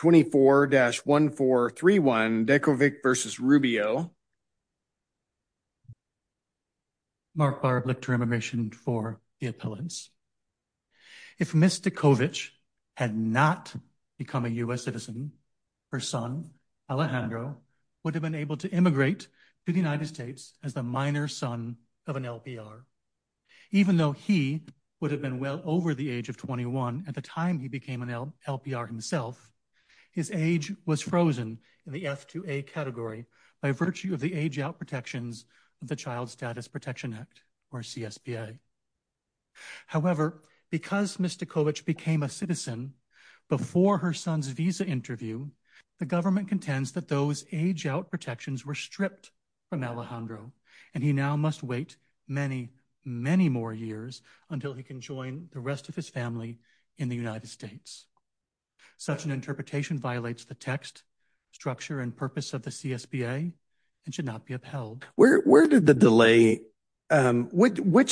24-1431 Dekovic v. Rubio Mark Barb, Lictor Immigration for the Appellants. If Ms. Dekovic had not become a U.S. citizen, her son, Alejandro, would have been able to immigrate to the United States as the minor son of an LPR. Even though he would have been well over the age of 21 at the time he became an LPR himself, his age was frozen in the F2A category by virtue of the age-out protections of the Child Status Protection Act, or CSPA. However, because Ms. Dekovic became a citizen before her son's visa interview, the government contends that those age-out protections were stripped from Alejandro, and he now must wait many, many more years until he can join the rest of his family in the United States. Such an interpretation violates the text, structure, and purpose of the CSPA and should not be upheld. Which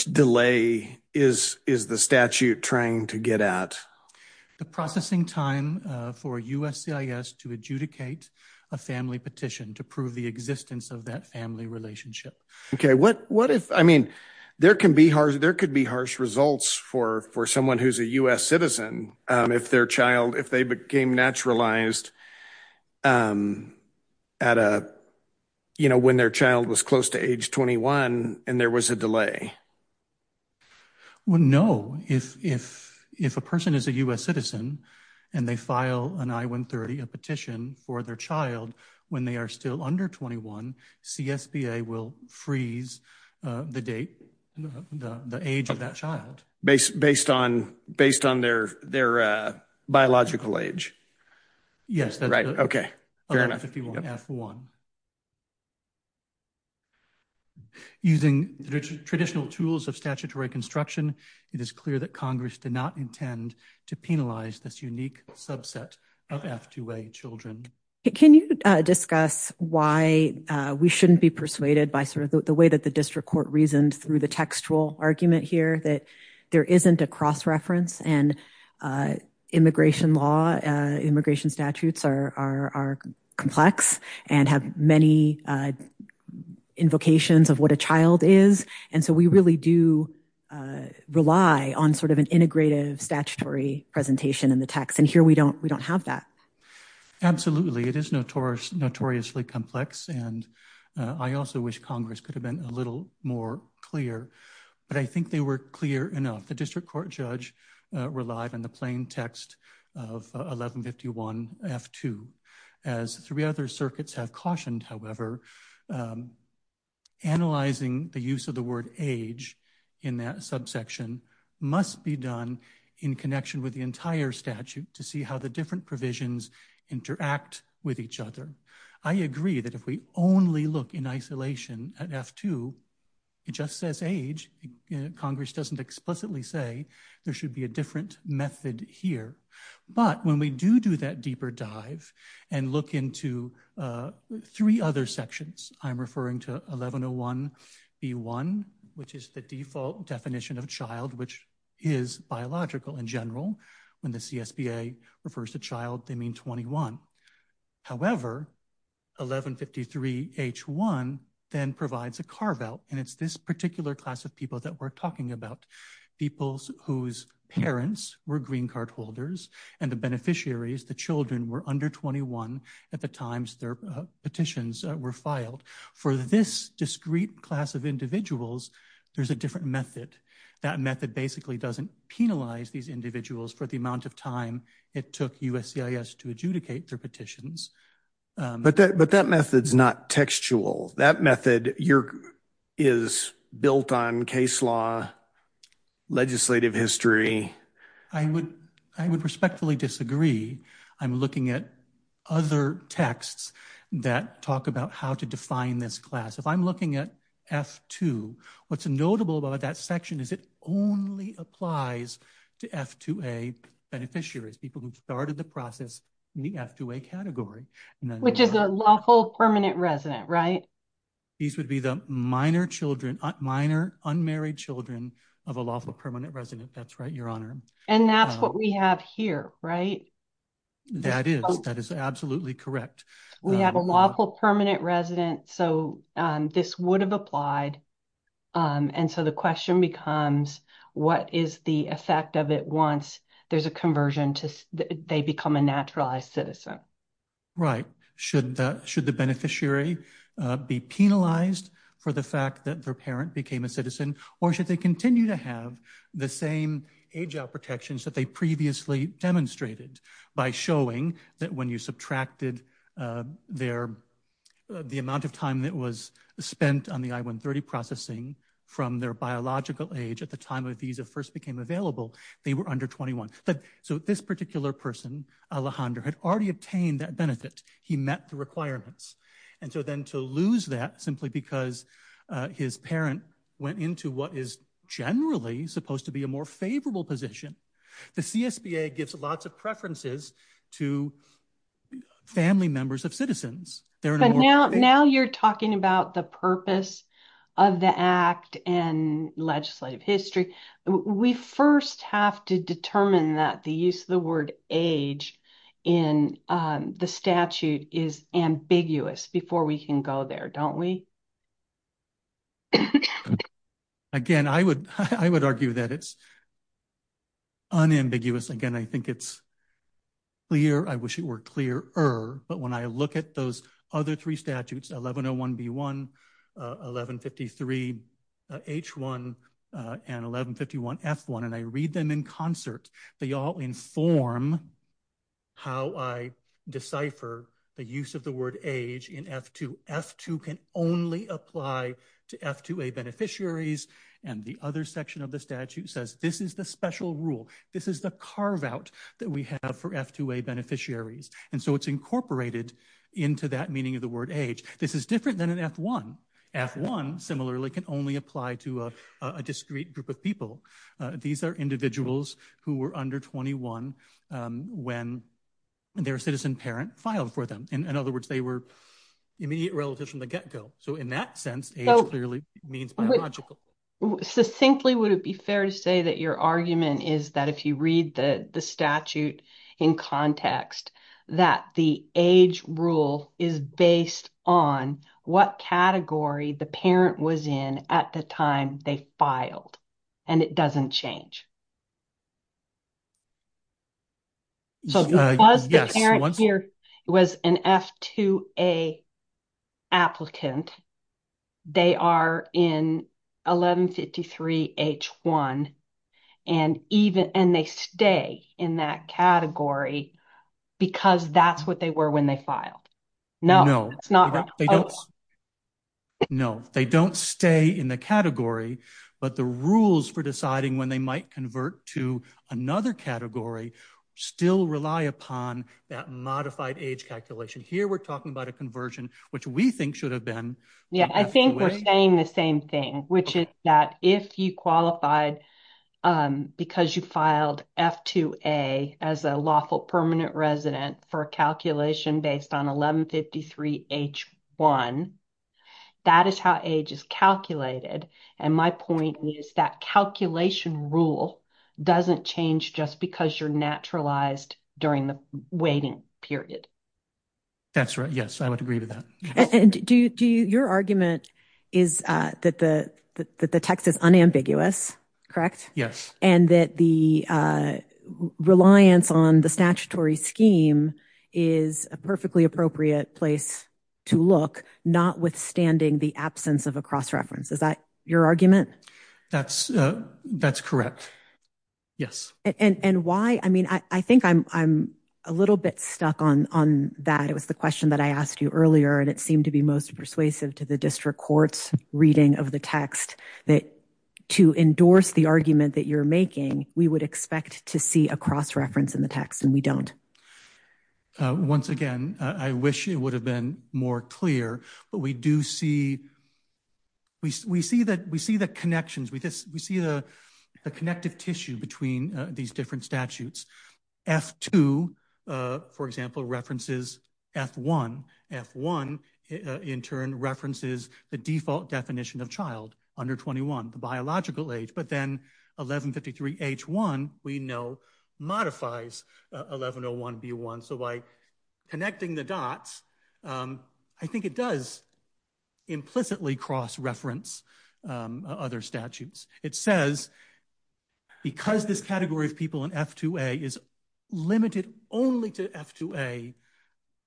delay is the statute trying to get at? The processing time for USCIS to adjudicate a family petition to prove the existence of that family relationship. Okay, what if, I mean, there could be harsh results for someone who's a U.S. citizen if their child, if they became naturalized at a, you know, when their child was close to age 21 and there was a delay. Well, no. If a person is a U.S. citizen and they file an I-130, a petition for their child when they are still under 21, CSPA will freeze the date, the age of that child. Based on their biological age? Yes, that's right. Okay, fair enough. Using traditional tools of statutory construction, it is clear that Congress did not intend to penalize this unique subset of F2A children. Can you discuss why we shouldn't be persuaded by sort of the way that the district court reasoned through the textual argument here that there isn't a cross-reference and immigration law, immigration statutes are complex and have many invocations of what a child is, and so we really do rely on sort of an integrative statutory presentation in the text, and here we don't have that. Absolutely, it is notoriously complex, and I also wish Congress could have been a little more clear, but I think they were clear enough. The district court judge relied on the plain text of 1151 F2. As three other circuits have cautioned, however, analyzing the use of the word age in that subsection must be done in connection with the entire statute to see how the different provisions interact with each other. I agree that if we only look in isolation at F2, it just says age. Congress doesn't explicitly say there should be a different method here, but when we do do that deeper dive and look into three other sections, I'm referring to 1101B1, which is the default definition of child, which is biological in general. When the CSBA refers to child, they mean 21. However, 1153 H1 then provides a carve-out, and it's this particular class of people that we're talking about, people whose parents were green card holders and the beneficiaries, the children, were under 21 at the times their petitions were filed. For this discrete class of individuals, there's a different method. That method basically doesn't penalize these individuals for the amount of time it took USCIS to adjudicate their petitions. But that method's not textual. That method is built on case law, legislative history. I would respectfully disagree. I'm looking at other texts that talk about how to define this class. I'm looking at F2. What's notable about that section is it only applies to F2A beneficiaries, people who started the process in the F2A category. Which is a lawful permanent resident, right? These would be the minor unmarried children of a lawful permanent resident. That's right, Your Honor. And that's what we have here, right? That is. That is absolutely correct. We have a lawful permanent resident, so this would have applied. And so the question becomes, what is the effect of it once there's a conversion to they become a naturalized citizen? Right. Should the beneficiary be penalized for the fact that their parent became a citizen? Or should they continue to have the same age out protections that they previously demonstrated by showing that when you subtracted the amount of time that was spent on the I-130 processing from their biological age at the time a visa first became available, they were under 21. So this particular person, Alejandro, had already obtained that benefit. He met the requirements. And so then to lose that simply because his parent went into what is generally supposed to be a more favorable position. The CSBA gives lots of preferences to family members of citizens. Now you're talking about the purpose of the act and legislative history. We first have to determine that the use of the word age in the statute is ambiguous before we can go there, don't we? So again, I would argue that it's unambiguous. Again, I think it's clear. I wish it were clearer. But when I look at those other three statutes, 1101B1, 1153H1, and 1151F1, and I read them in concert, they all inform how I decipher the use of the word age in F2. F2 can only apply to F2A beneficiaries. And the other section of the statute says this is the special rule. This is the carve out that we have for F2A beneficiaries. And so it's incorporated into that meaning of the word age. This is different than an F1. F1, similarly, can only apply to a discrete group of people. These are individuals who were under 21 when their citizen parent filed for them. In other words, they were immediate relatives from the get-go. So in that sense, age clearly means biological. Succinctly, would it be fair to say that your argument is that if you read the statute in context, that the age rule is based on what category the parent was in at the time they filed, and it doesn't change? So because the parent here was an F2A applicant, they are in 1153H1, and they stay in that category because that's what they were when they filed. No, it's not. No, they don't stay in the category. But the rules for deciding when they might convert to another category still rely upon that modified age calculation. Here we're talking about a conversion, which we think should have been. Yeah, I think we're saying the same thing, which is that if you qualified because you filed F2A as a lawful permanent resident for calculation based on 1153H1, that is how age is calculated. And my point is that calculation rule doesn't change just because you're naturalized during the waiting period. That's right. Yes, I would agree with that. And your argument is that the text is unambiguous, correct? Yes. And that the reliance on the statutory scheme is a perfectly appropriate place to look, notwithstanding the absence of a cross-reference. Is that your argument? That's correct. Yes. And why? I mean, I think I'm a little bit stuck on that. It was the question that I asked you earlier, and it seemed to be most persuasive to the district court's reading of the text, that to endorse the argument that you're making, we would expect to see a cross-reference in the text, and we don't. Once again, I wish it would have been more clear, but we do see, we see the connections, we see the connective tissue between these different statutes. F2, for example, references F1. F1, in turn, references the default definition of child under 21, the biological age. But then 1153H1, we know, modifies 1101B1. So by connecting the dots, I think it does implicitly cross-reference other statutes. It says, because this category of people in F2A is limited only to F2A,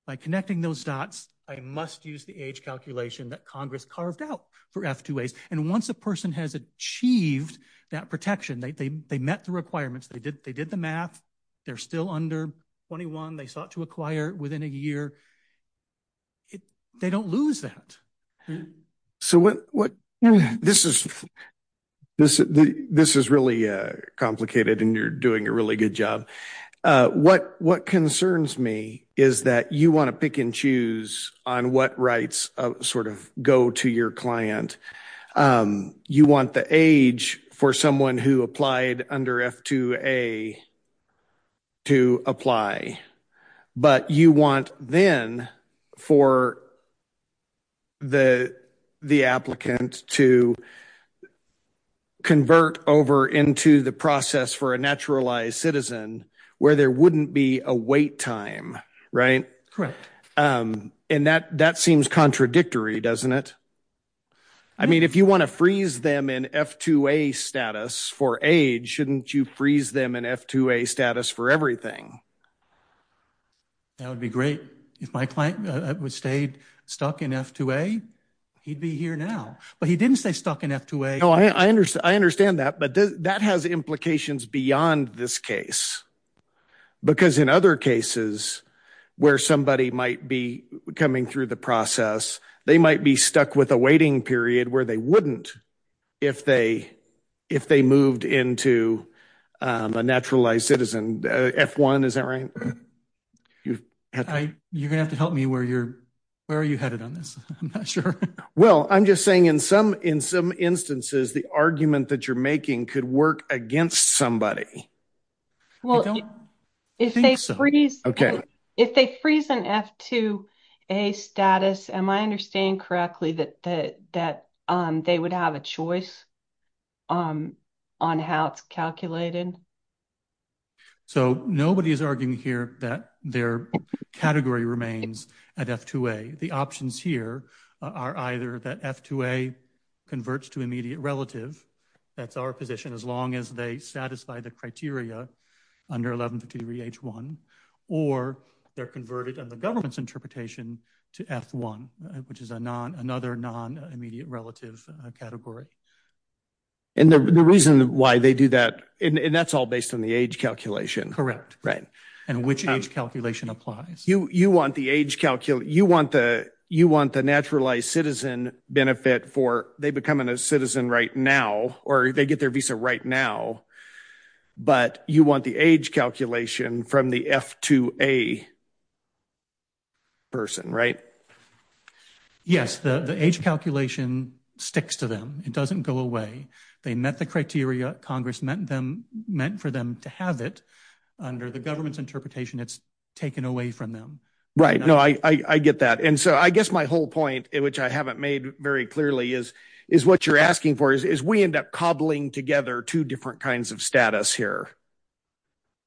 by connecting those dots, I must use the age calculation that Congress carved out for F2As. And once a person has achieved that protection, they met the requirements, they did the math, they're still under 21, they sought to acquire within a year, they don't lose that. So what, this is really complicated, and you're doing a really good job. What concerns me is that you want to pick and choose on what rights sort of go to your client. You want the age for someone who applied under F2A to apply. But you want then for the applicant to convert over into the process for a naturalized citizen where there wouldn't be a wait time, right? Correct. And that seems contradictory, doesn't it? I mean, if you want to freeze them in F2A status for age, shouldn't you freeze them in F2A status for everything? That would be great. If my client stayed stuck in F2A, he'd be here now. But he didn't stay stuck in F2A. No, I understand that. But that has implications beyond this case. Because in other cases where somebody might be coming through the process, they might be stuck with a waiting period where they wouldn't if they moved into a naturalized citizen. F1, is that right? You're going to have to help me. Where are you headed on this? I'm not sure. Well, I'm just saying in some instances, the argument that you're making could work against somebody. Well, if they freeze an F2A status, am I understanding correctly that they would have a choice on how it's calculated? So nobody is arguing here that their category remains at F2A. The options here are either that F2A converts to immediate relative. That's our position. As long as they satisfy the criteria under 1153 H1. Or they're converted in the government's interpretation to F1, which is another non-immediate relative category. And the reason why they do that, and that's all based on the age calculation. Right. And which age calculation applies. You want the age calculate. You want the naturalized citizen benefit for they becoming a citizen right now, or they get their visa right now. But you want the age calculation from the F2A person, right? Yes, the age calculation sticks to them. It doesn't go away. They met the criteria. Congress meant for them to have it under the government's interpretation. It's taken away from them. Right. No, I get that. And so I guess my whole point, which I haven't made very clearly, is what you're asking for is, we end up cobbling together two different kinds of status here.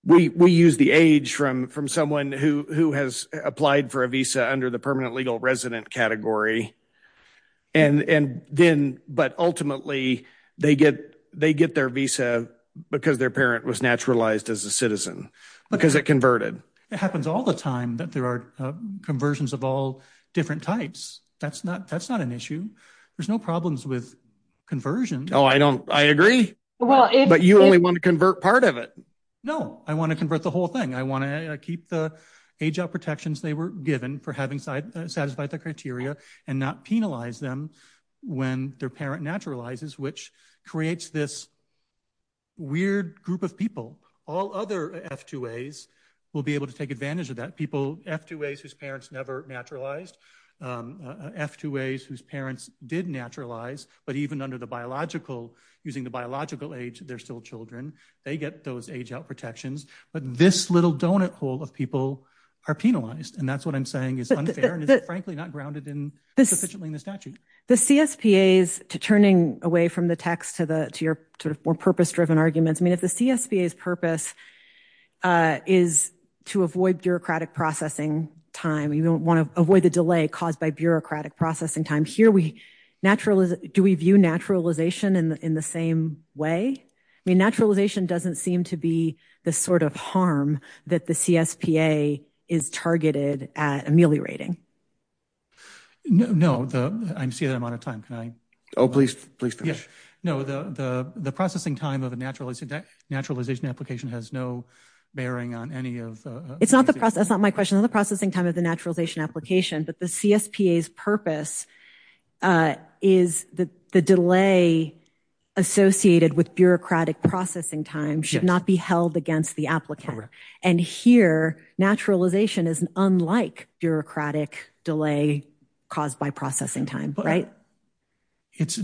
We use the age from someone who has applied for a visa under the permanent legal resident category. But ultimately, they get their visa because their parent was naturalized as a citizen, because it converted. It happens all the time that there are conversions of all different types. That's not an issue. There's no problems with conversion. Oh, I agree. But you only want to convert part of it. No, I want to convert the whole thing. I want to keep the age out protections they were given for having satisfied the criteria and not penalize them when their parent naturalizes, which creates this weird group of people. All other F2As will be able to take advantage of that. F2As whose parents never naturalized. F2As whose parents did naturalize, but even under the biological, using the biological age, they're still children. They get those age out protections. But this little donut hole of people are penalized. And that's what I'm saying is unfair and is frankly not grounded sufficiently in the statute. The CSPAs, turning away from the text to your sort of more purpose-driven arguments. I mean, if the CSPA's purpose is to avoid bureaucratic processing time, you don't want to avoid the delay caused by bureaucratic processing time. Do we view naturalization in the same way? I mean, naturalization doesn't seem to be the sort of harm that the CSPA is targeted at ameliorating. No, I'm seeing that I'm out of time. Can I? Oh, please finish. No, the processing time of a naturalization application has no bearing on any of the- It's not the process. That's not my question. The processing time of the naturalization application, but the CSPA's purpose is the delay associated with bureaucratic processing time should not be held against the applicant. And here, naturalization is unlike bureaucratic delay caused by processing time, right? It's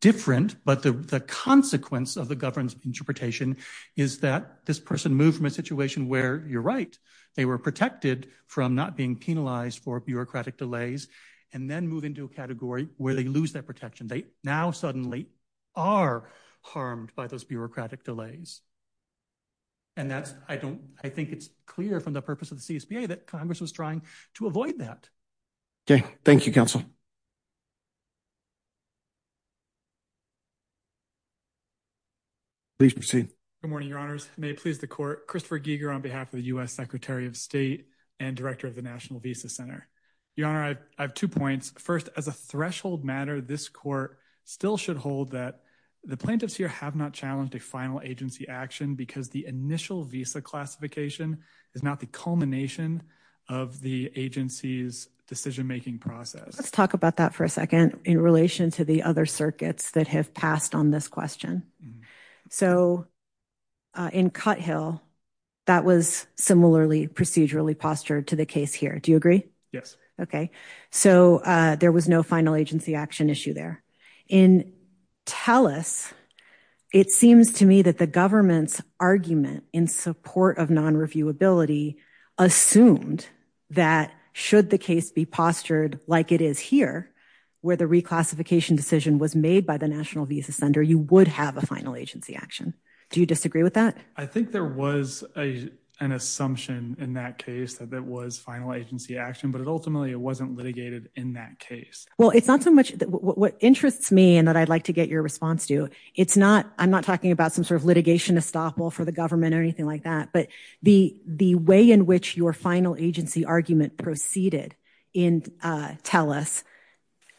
different, but the consequence of the governance interpretation is that this person moved from a situation where you're right, they were protected from not being penalized for bureaucratic delays, and then move into a category where they lose that protection. They now suddenly are harmed by those bureaucratic delays. And that's, I don't, I think it's clear from the purpose of the CSPA that Congress was trying to avoid that. Okay, thank you, counsel. Please proceed. Good morning, your honors. May it please the court. Christopher Giger on behalf of the U.S. Secretary of State and Director of the National Visa Center. Your honor, I have two points. First, as a threshold matter, this court still should hold that the plaintiffs here have not challenged a final agency action because the initial visa classification is not the culmination of the agency's decision-making process. Let's talk about that for a second in relation to the other circuits that have passed on this question. So in Cuthill, that was similarly procedurally postured to the case here. Do you agree? Yes. Okay, so there was no final agency action issue there. In Telus, it seems to me that the government's argument in support of non-reviewability assumed that should the case be postured like it is here, where the reclassification decision was made by the National Visa Center, you would have a final agency action. Do you disagree with that? I think there was an assumption in that case that it was final agency action, but ultimately it wasn't litigated in that case. Well, it's not so much what interests me and that I'd like to get your response to. It's not, I'm not talking about some sort of litigation estoppel for the government or anything like that, but the way in which your final agency argument proceeded in Telus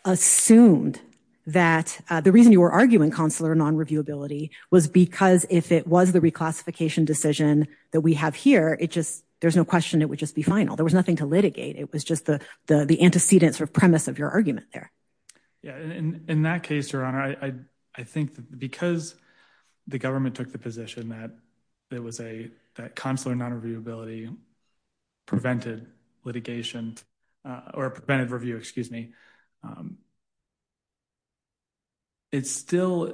assumed that the reason you were arguing consular non-reviewability was because if it was the reclassification decision that we have here, it just, there's no question it would just be final. There was nothing to litigate. It was just the antecedent sort of premise of your argument there. Yeah, and in that case, Your Honor, I think that because the government took the position that it was a consular non-reviewability prevented litigation or prevented review, excuse me, it's still,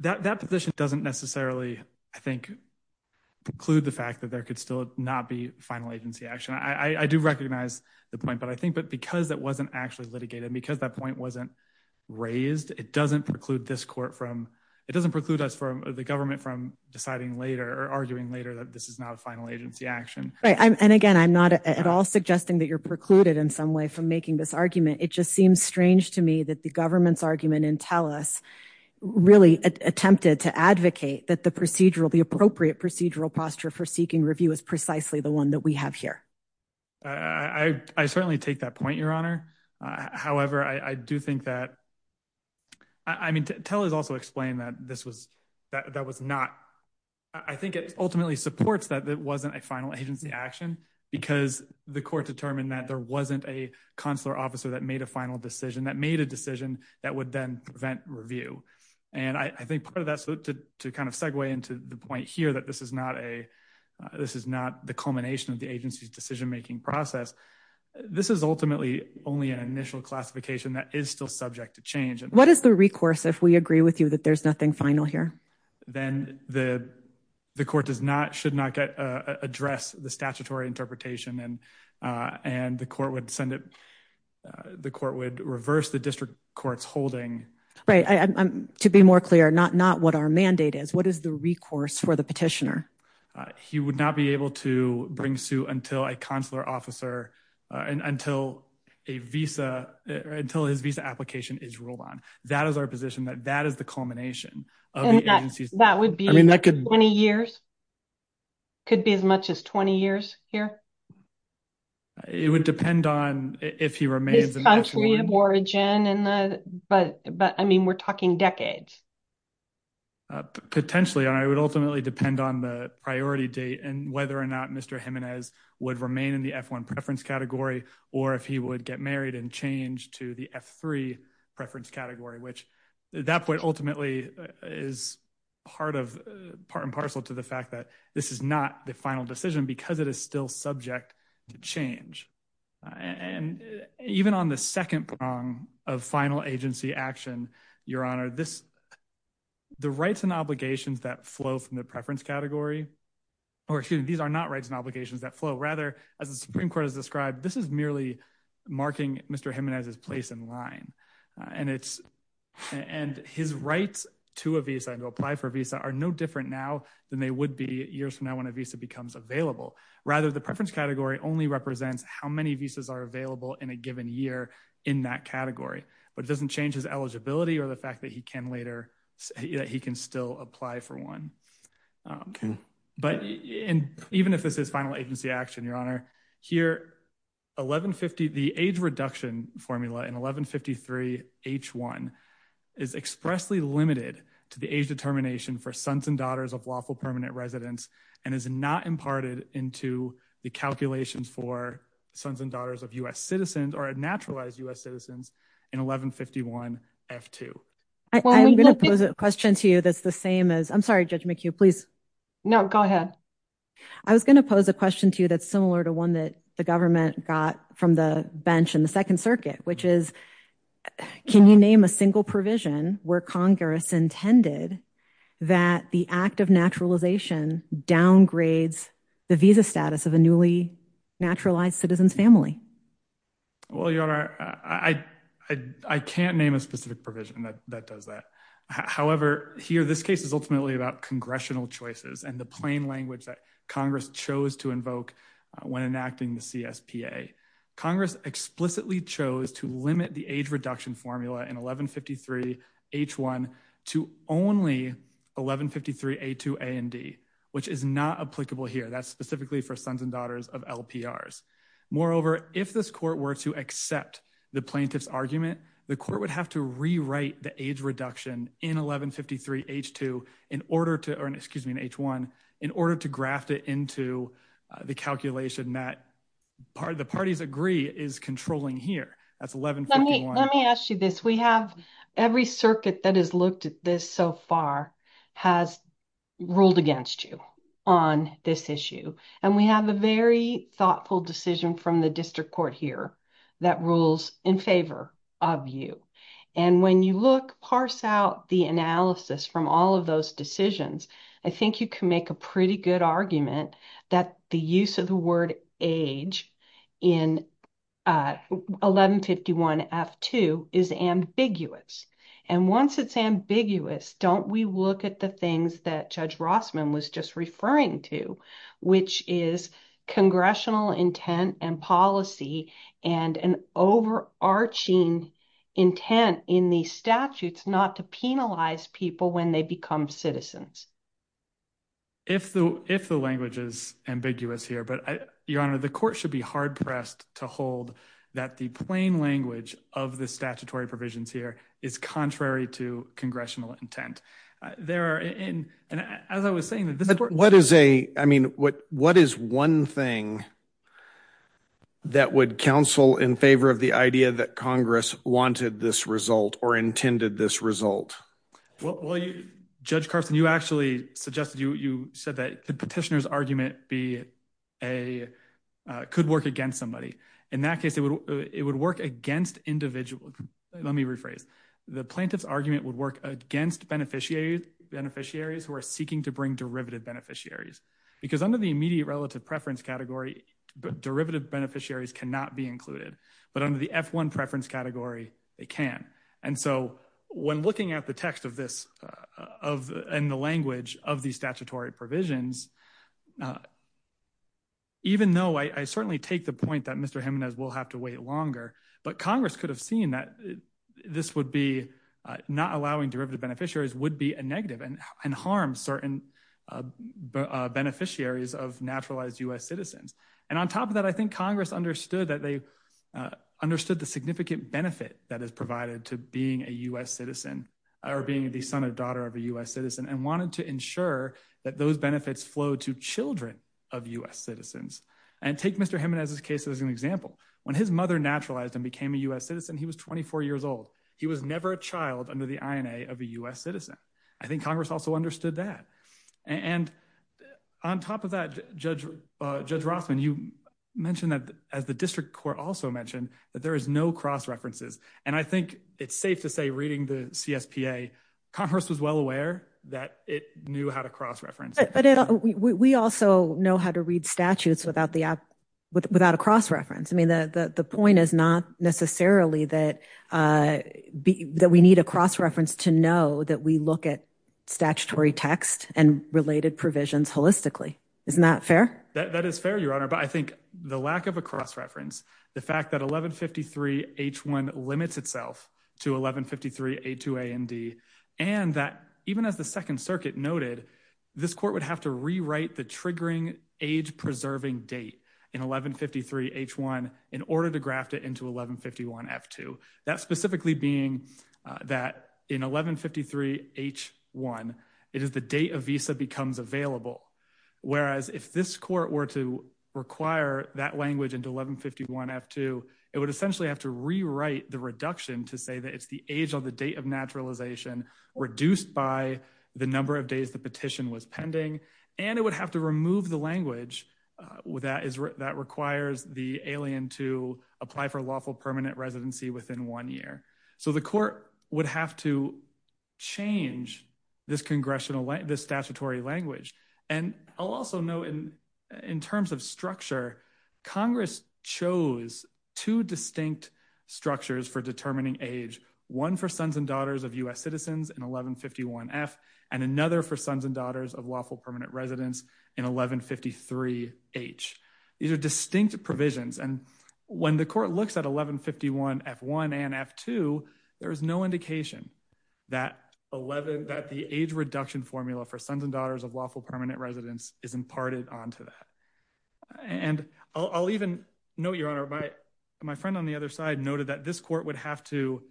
that position doesn't necessarily, I think preclude the fact that there could still not be final agency action. I do recognize the point, but I think, but because that wasn't actually litigated, because that point wasn't raised, it doesn't preclude this court from, it doesn't preclude us from the government from deciding later or arguing later that this is not a final agency action. Right, and again, I'm not at all suggesting that you're precluded in some way from making this argument. It just seems strange to me that the government's argument in Tellus really attempted to advocate that the procedural, the appropriate procedural posture for seeking review is precisely the one that we have here. I certainly take that point, Your Honor. However, I do think that, I mean, Tellus also explained that this was, that was not, I think it ultimately supports that it wasn't a final agency action because the court determined that there wasn't a consular officer that made a final decision that made a decision that would then prevent review. And I think part of that, so to kind of segue into the point here that this is not a, this is not the culmination of the agency's decision-making process. This is ultimately only an initial classification that is still subject to change. What is the recourse if we agree with you that there's nothing final here? Then the court does not, should not address the statutory interpretation and the court would send it, the court would reverse the district court's holding. Right, to be more clear, not what our mandate is, what is the recourse for the petitioner? He would not be able to bring suit until a consular officer, and until a visa, until his visa application is ruled on. That is our position, that that is the culmination of the agency. That would be 20 years? Could be as much as 20 years here? It would depend on if he remains- His country of origin and the, but I mean, we're talking decades. Potentially, and I would ultimately depend on the priority date and whether or not Mr. Jimenez would remain in the F1 preference category, or if he would get married and change to the F3 preference category, which that point ultimately is part and parcel to the fact that this is not the final decision because it is still subject to change. And even on the second prong of final agency action, Your Honor, this, the rights and obligations that flow from the preference category, or excuse me, these are not rights and obligations that flow. Rather, as the Supreme Court has described, this is merely marking Mr. Jimenez's place in line. And it's, and his rights to a visa and to apply for a visa are no different now than they would be years from now when a visa becomes available. Rather, the preference category only represents how many visas are available in a given year in that category, but it doesn't change his eligibility or the fact that he can later, that he can still apply for one. But even if this is final agency action, Your Honor, here 1150, the age reduction formula in 1153 H1 is expressly limited to the age determination for sons and daughters of lawful permanent residents and is not imparted into the calculations for sons and daughters of U.S. citizens or naturalized U.S. citizens in 1151 F2. I'm going to pose a question to you that's the same as, I'm sorry, Judge McHugh, please. No, go ahead. I was going to pose a question to you that's similar to one that the government got from the bench in the Second Circuit, which is, can you name a single provision where Congress intended that the act of naturalization downgrades the visa status of a newly naturalized citizen's family? Well, Your Honor, I can't name a specific provision that does that. However, here, this case is ultimately about congressional choices and the plain language that Congress chose to invoke when enacting the CSPA. Congress explicitly chose to limit the age reduction formula in 1153 H1 to only 1153 A2 A and D. Which is not applicable here. That's specifically for sons and daughters of LPRs. Moreover, if this court were to accept the plaintiff's argument, the court would have to rewrite the age reduction in 1153 H2 in order to, excuse me, in H1, in order to graft it into the calculation that the parties agree is controlling here. That's 1151. Let me ask you this. We have every circuit that has looked at this so far has ruled against you on this issue. And we have a very thoughtful decision from the district court here that rules in favor of you. And when you look, parse out the analysis from all of those decisions, I think you can make a pretty good argument that the use of the word age in 1151 F2 is ambiguous. And once it's ambiguous, don't we look at the things that Judge Rossman was just referring to, which is congressional intent and policy and an overarching intent in the statutes not to penalize people when they become citizens. If the, if the language is ambiguous here, but your honor, the court should be hard pressed to hold that the plain language of the statutory provisions here is contrary to congressional intent. There are in, and as I was saying, that this is what is a, I mean, what, what is one thing that would counsel in favor of the idea that Congress wanted this result or intended this result? Well, Judge Carson, you actually suggested you, you said that the petitioner's argument be a, could work against somebody. In that case, it would, it would work against individual. Let me rephrase the plaintiff's argument would work against beneficiaries, beneficiaries who are seeking to bring derivative beneficiaries because under the immediate relative preference category, but derivative beneficiaries cannot be included, but under the F1 preference category, they can. And so when looking at the text of this, of, and the language of the statutory provisions, even though I certainly take the point that Mr. Jimenez will have to wait longer, but Congress could have seen that this would be not allowing derivative beneficiaries would be a negative and harm certain beneficiaries of naturalized US citizens. And on top of that, I think Congress understood that they understood the significant benefit that is provided to being a US citizen or being the son or daughter of a US citizen and wanted to ensure that those benefits flow to children of US citizens. And take Mr. Jimenez's case as an example, when his mother naturalized and became a US citizen, he was 24 years old. He was never a child under the INA of a US citizen. I think Congress also understood that. And on top of that, Judge Rossman, you mentioned that as the district court also mentioned that there is no cross-references. And I think it's safe to say reading the CSPA, Congress was well aware that it knew how to cross-reference. But we also know how to read statutes without a cross-reference. The point is not necessarily that we need a cross-reference to know that we look at statutory text and related provisions holistically. Isn't that fair? That is fair, Your Honor. But I think the lack of a cross-reference, the fact that 1153 H1 limits itself to 1153 A2 A and D, and that even as the Second Circuit noted, this court would have to rewrite the triggering age-preserving date in 1153 H1 in order to graft it into 1151 F2. That specifically being that in 1153 H1, it is the date a visa becomes available. Whereas if this court were to require that language into 1151 F2, it would essentially have to rewrite the reduction to say that it's the age of the date of naturalization reduced by the number of days the petition was pending. And it would have to remove the language that requires the alien to apply for lawful permanent residency within one year. So the court would have to change this congressional, this statutory language. And I'll also note in terms of structure, Congress chose two distinct structures for determining age, one for sons and daughters of U.S. citizens in 1151 F and another for sons and daughters of lawful permanent residents in 1153 H. These are distinct provisions. And when the court looks at 1151 F1 and F2, there is no indication that the age reduction formula for sons and daughters of lawful permanent residents is imparted onto that. And I'll even note, Your Honor, my friend on the other side noted that this court would have to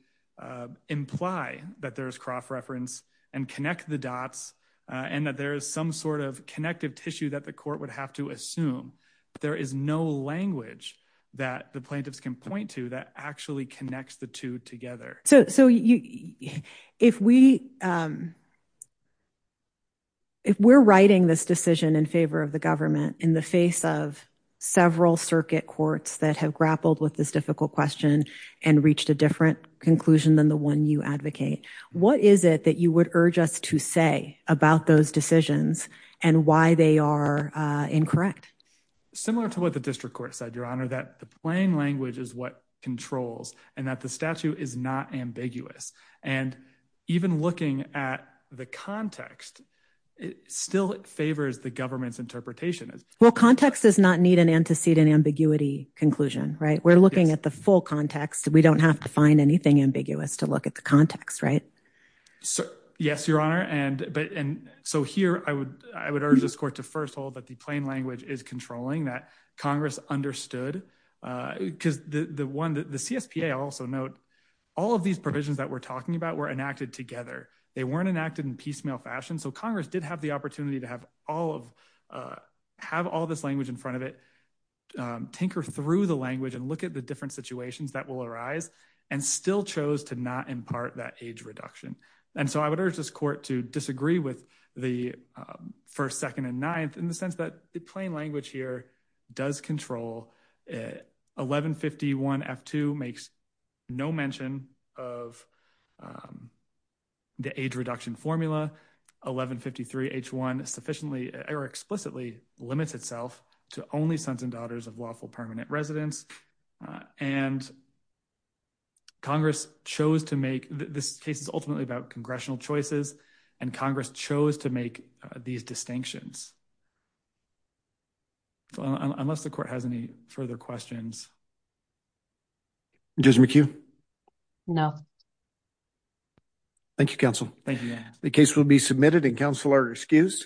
imply that there's crop reference and connect the dots and that there is some sort of connective tissue that the court would have to assume. There is no language that the plaintiffs can point to that actually connects the two together. So if we're writing this decision in favor of the government in the face of several circuit courts that have grappled with this difficult question and reached a different conclusion than the one you advocate, what is it that you would urge us to say about those decisions and why they are incorrect? Similar to what the district court said, Your Honor, that the plain language is what controls and that the statute is not ambiguous. And even looking at the context, it still favors the government's interpretation. Well, context does not need an antecedent ambiguity conclusion, right? We're looking at the full context. We don't have to find anything ambiguous to look at the context, right? Yes, Your Honor. And so here I would urge this court to first hold that the plain language is controlling, that Congress understood. Because the one that the CSPA also note, all of these provisions that we're talking about were enacted together. They weren't enacted in piecemeal fashion. So Congress did have the opportunity to have all of, have all this language in front of it, tinker through the language and look at the different situations that will arise and still chose to not impart that age reduction. And so I would urge this court to disagree with the first, second, and ninth in the sense that the plain language here does control 1151 F-2 makes no mention of the age reduction formula. 1153 H-1 sufficiently, or explicitly limits itself to only sons and daughters of lawful permanent residents. And Congress chose to make, this case is ultimately about congressional choices and Congress chose to make these distinctions. So unless the court has any further questions. Judge McHugh? No. Thank you, counsel. Thank you. The case will be submitted and counsel are excused.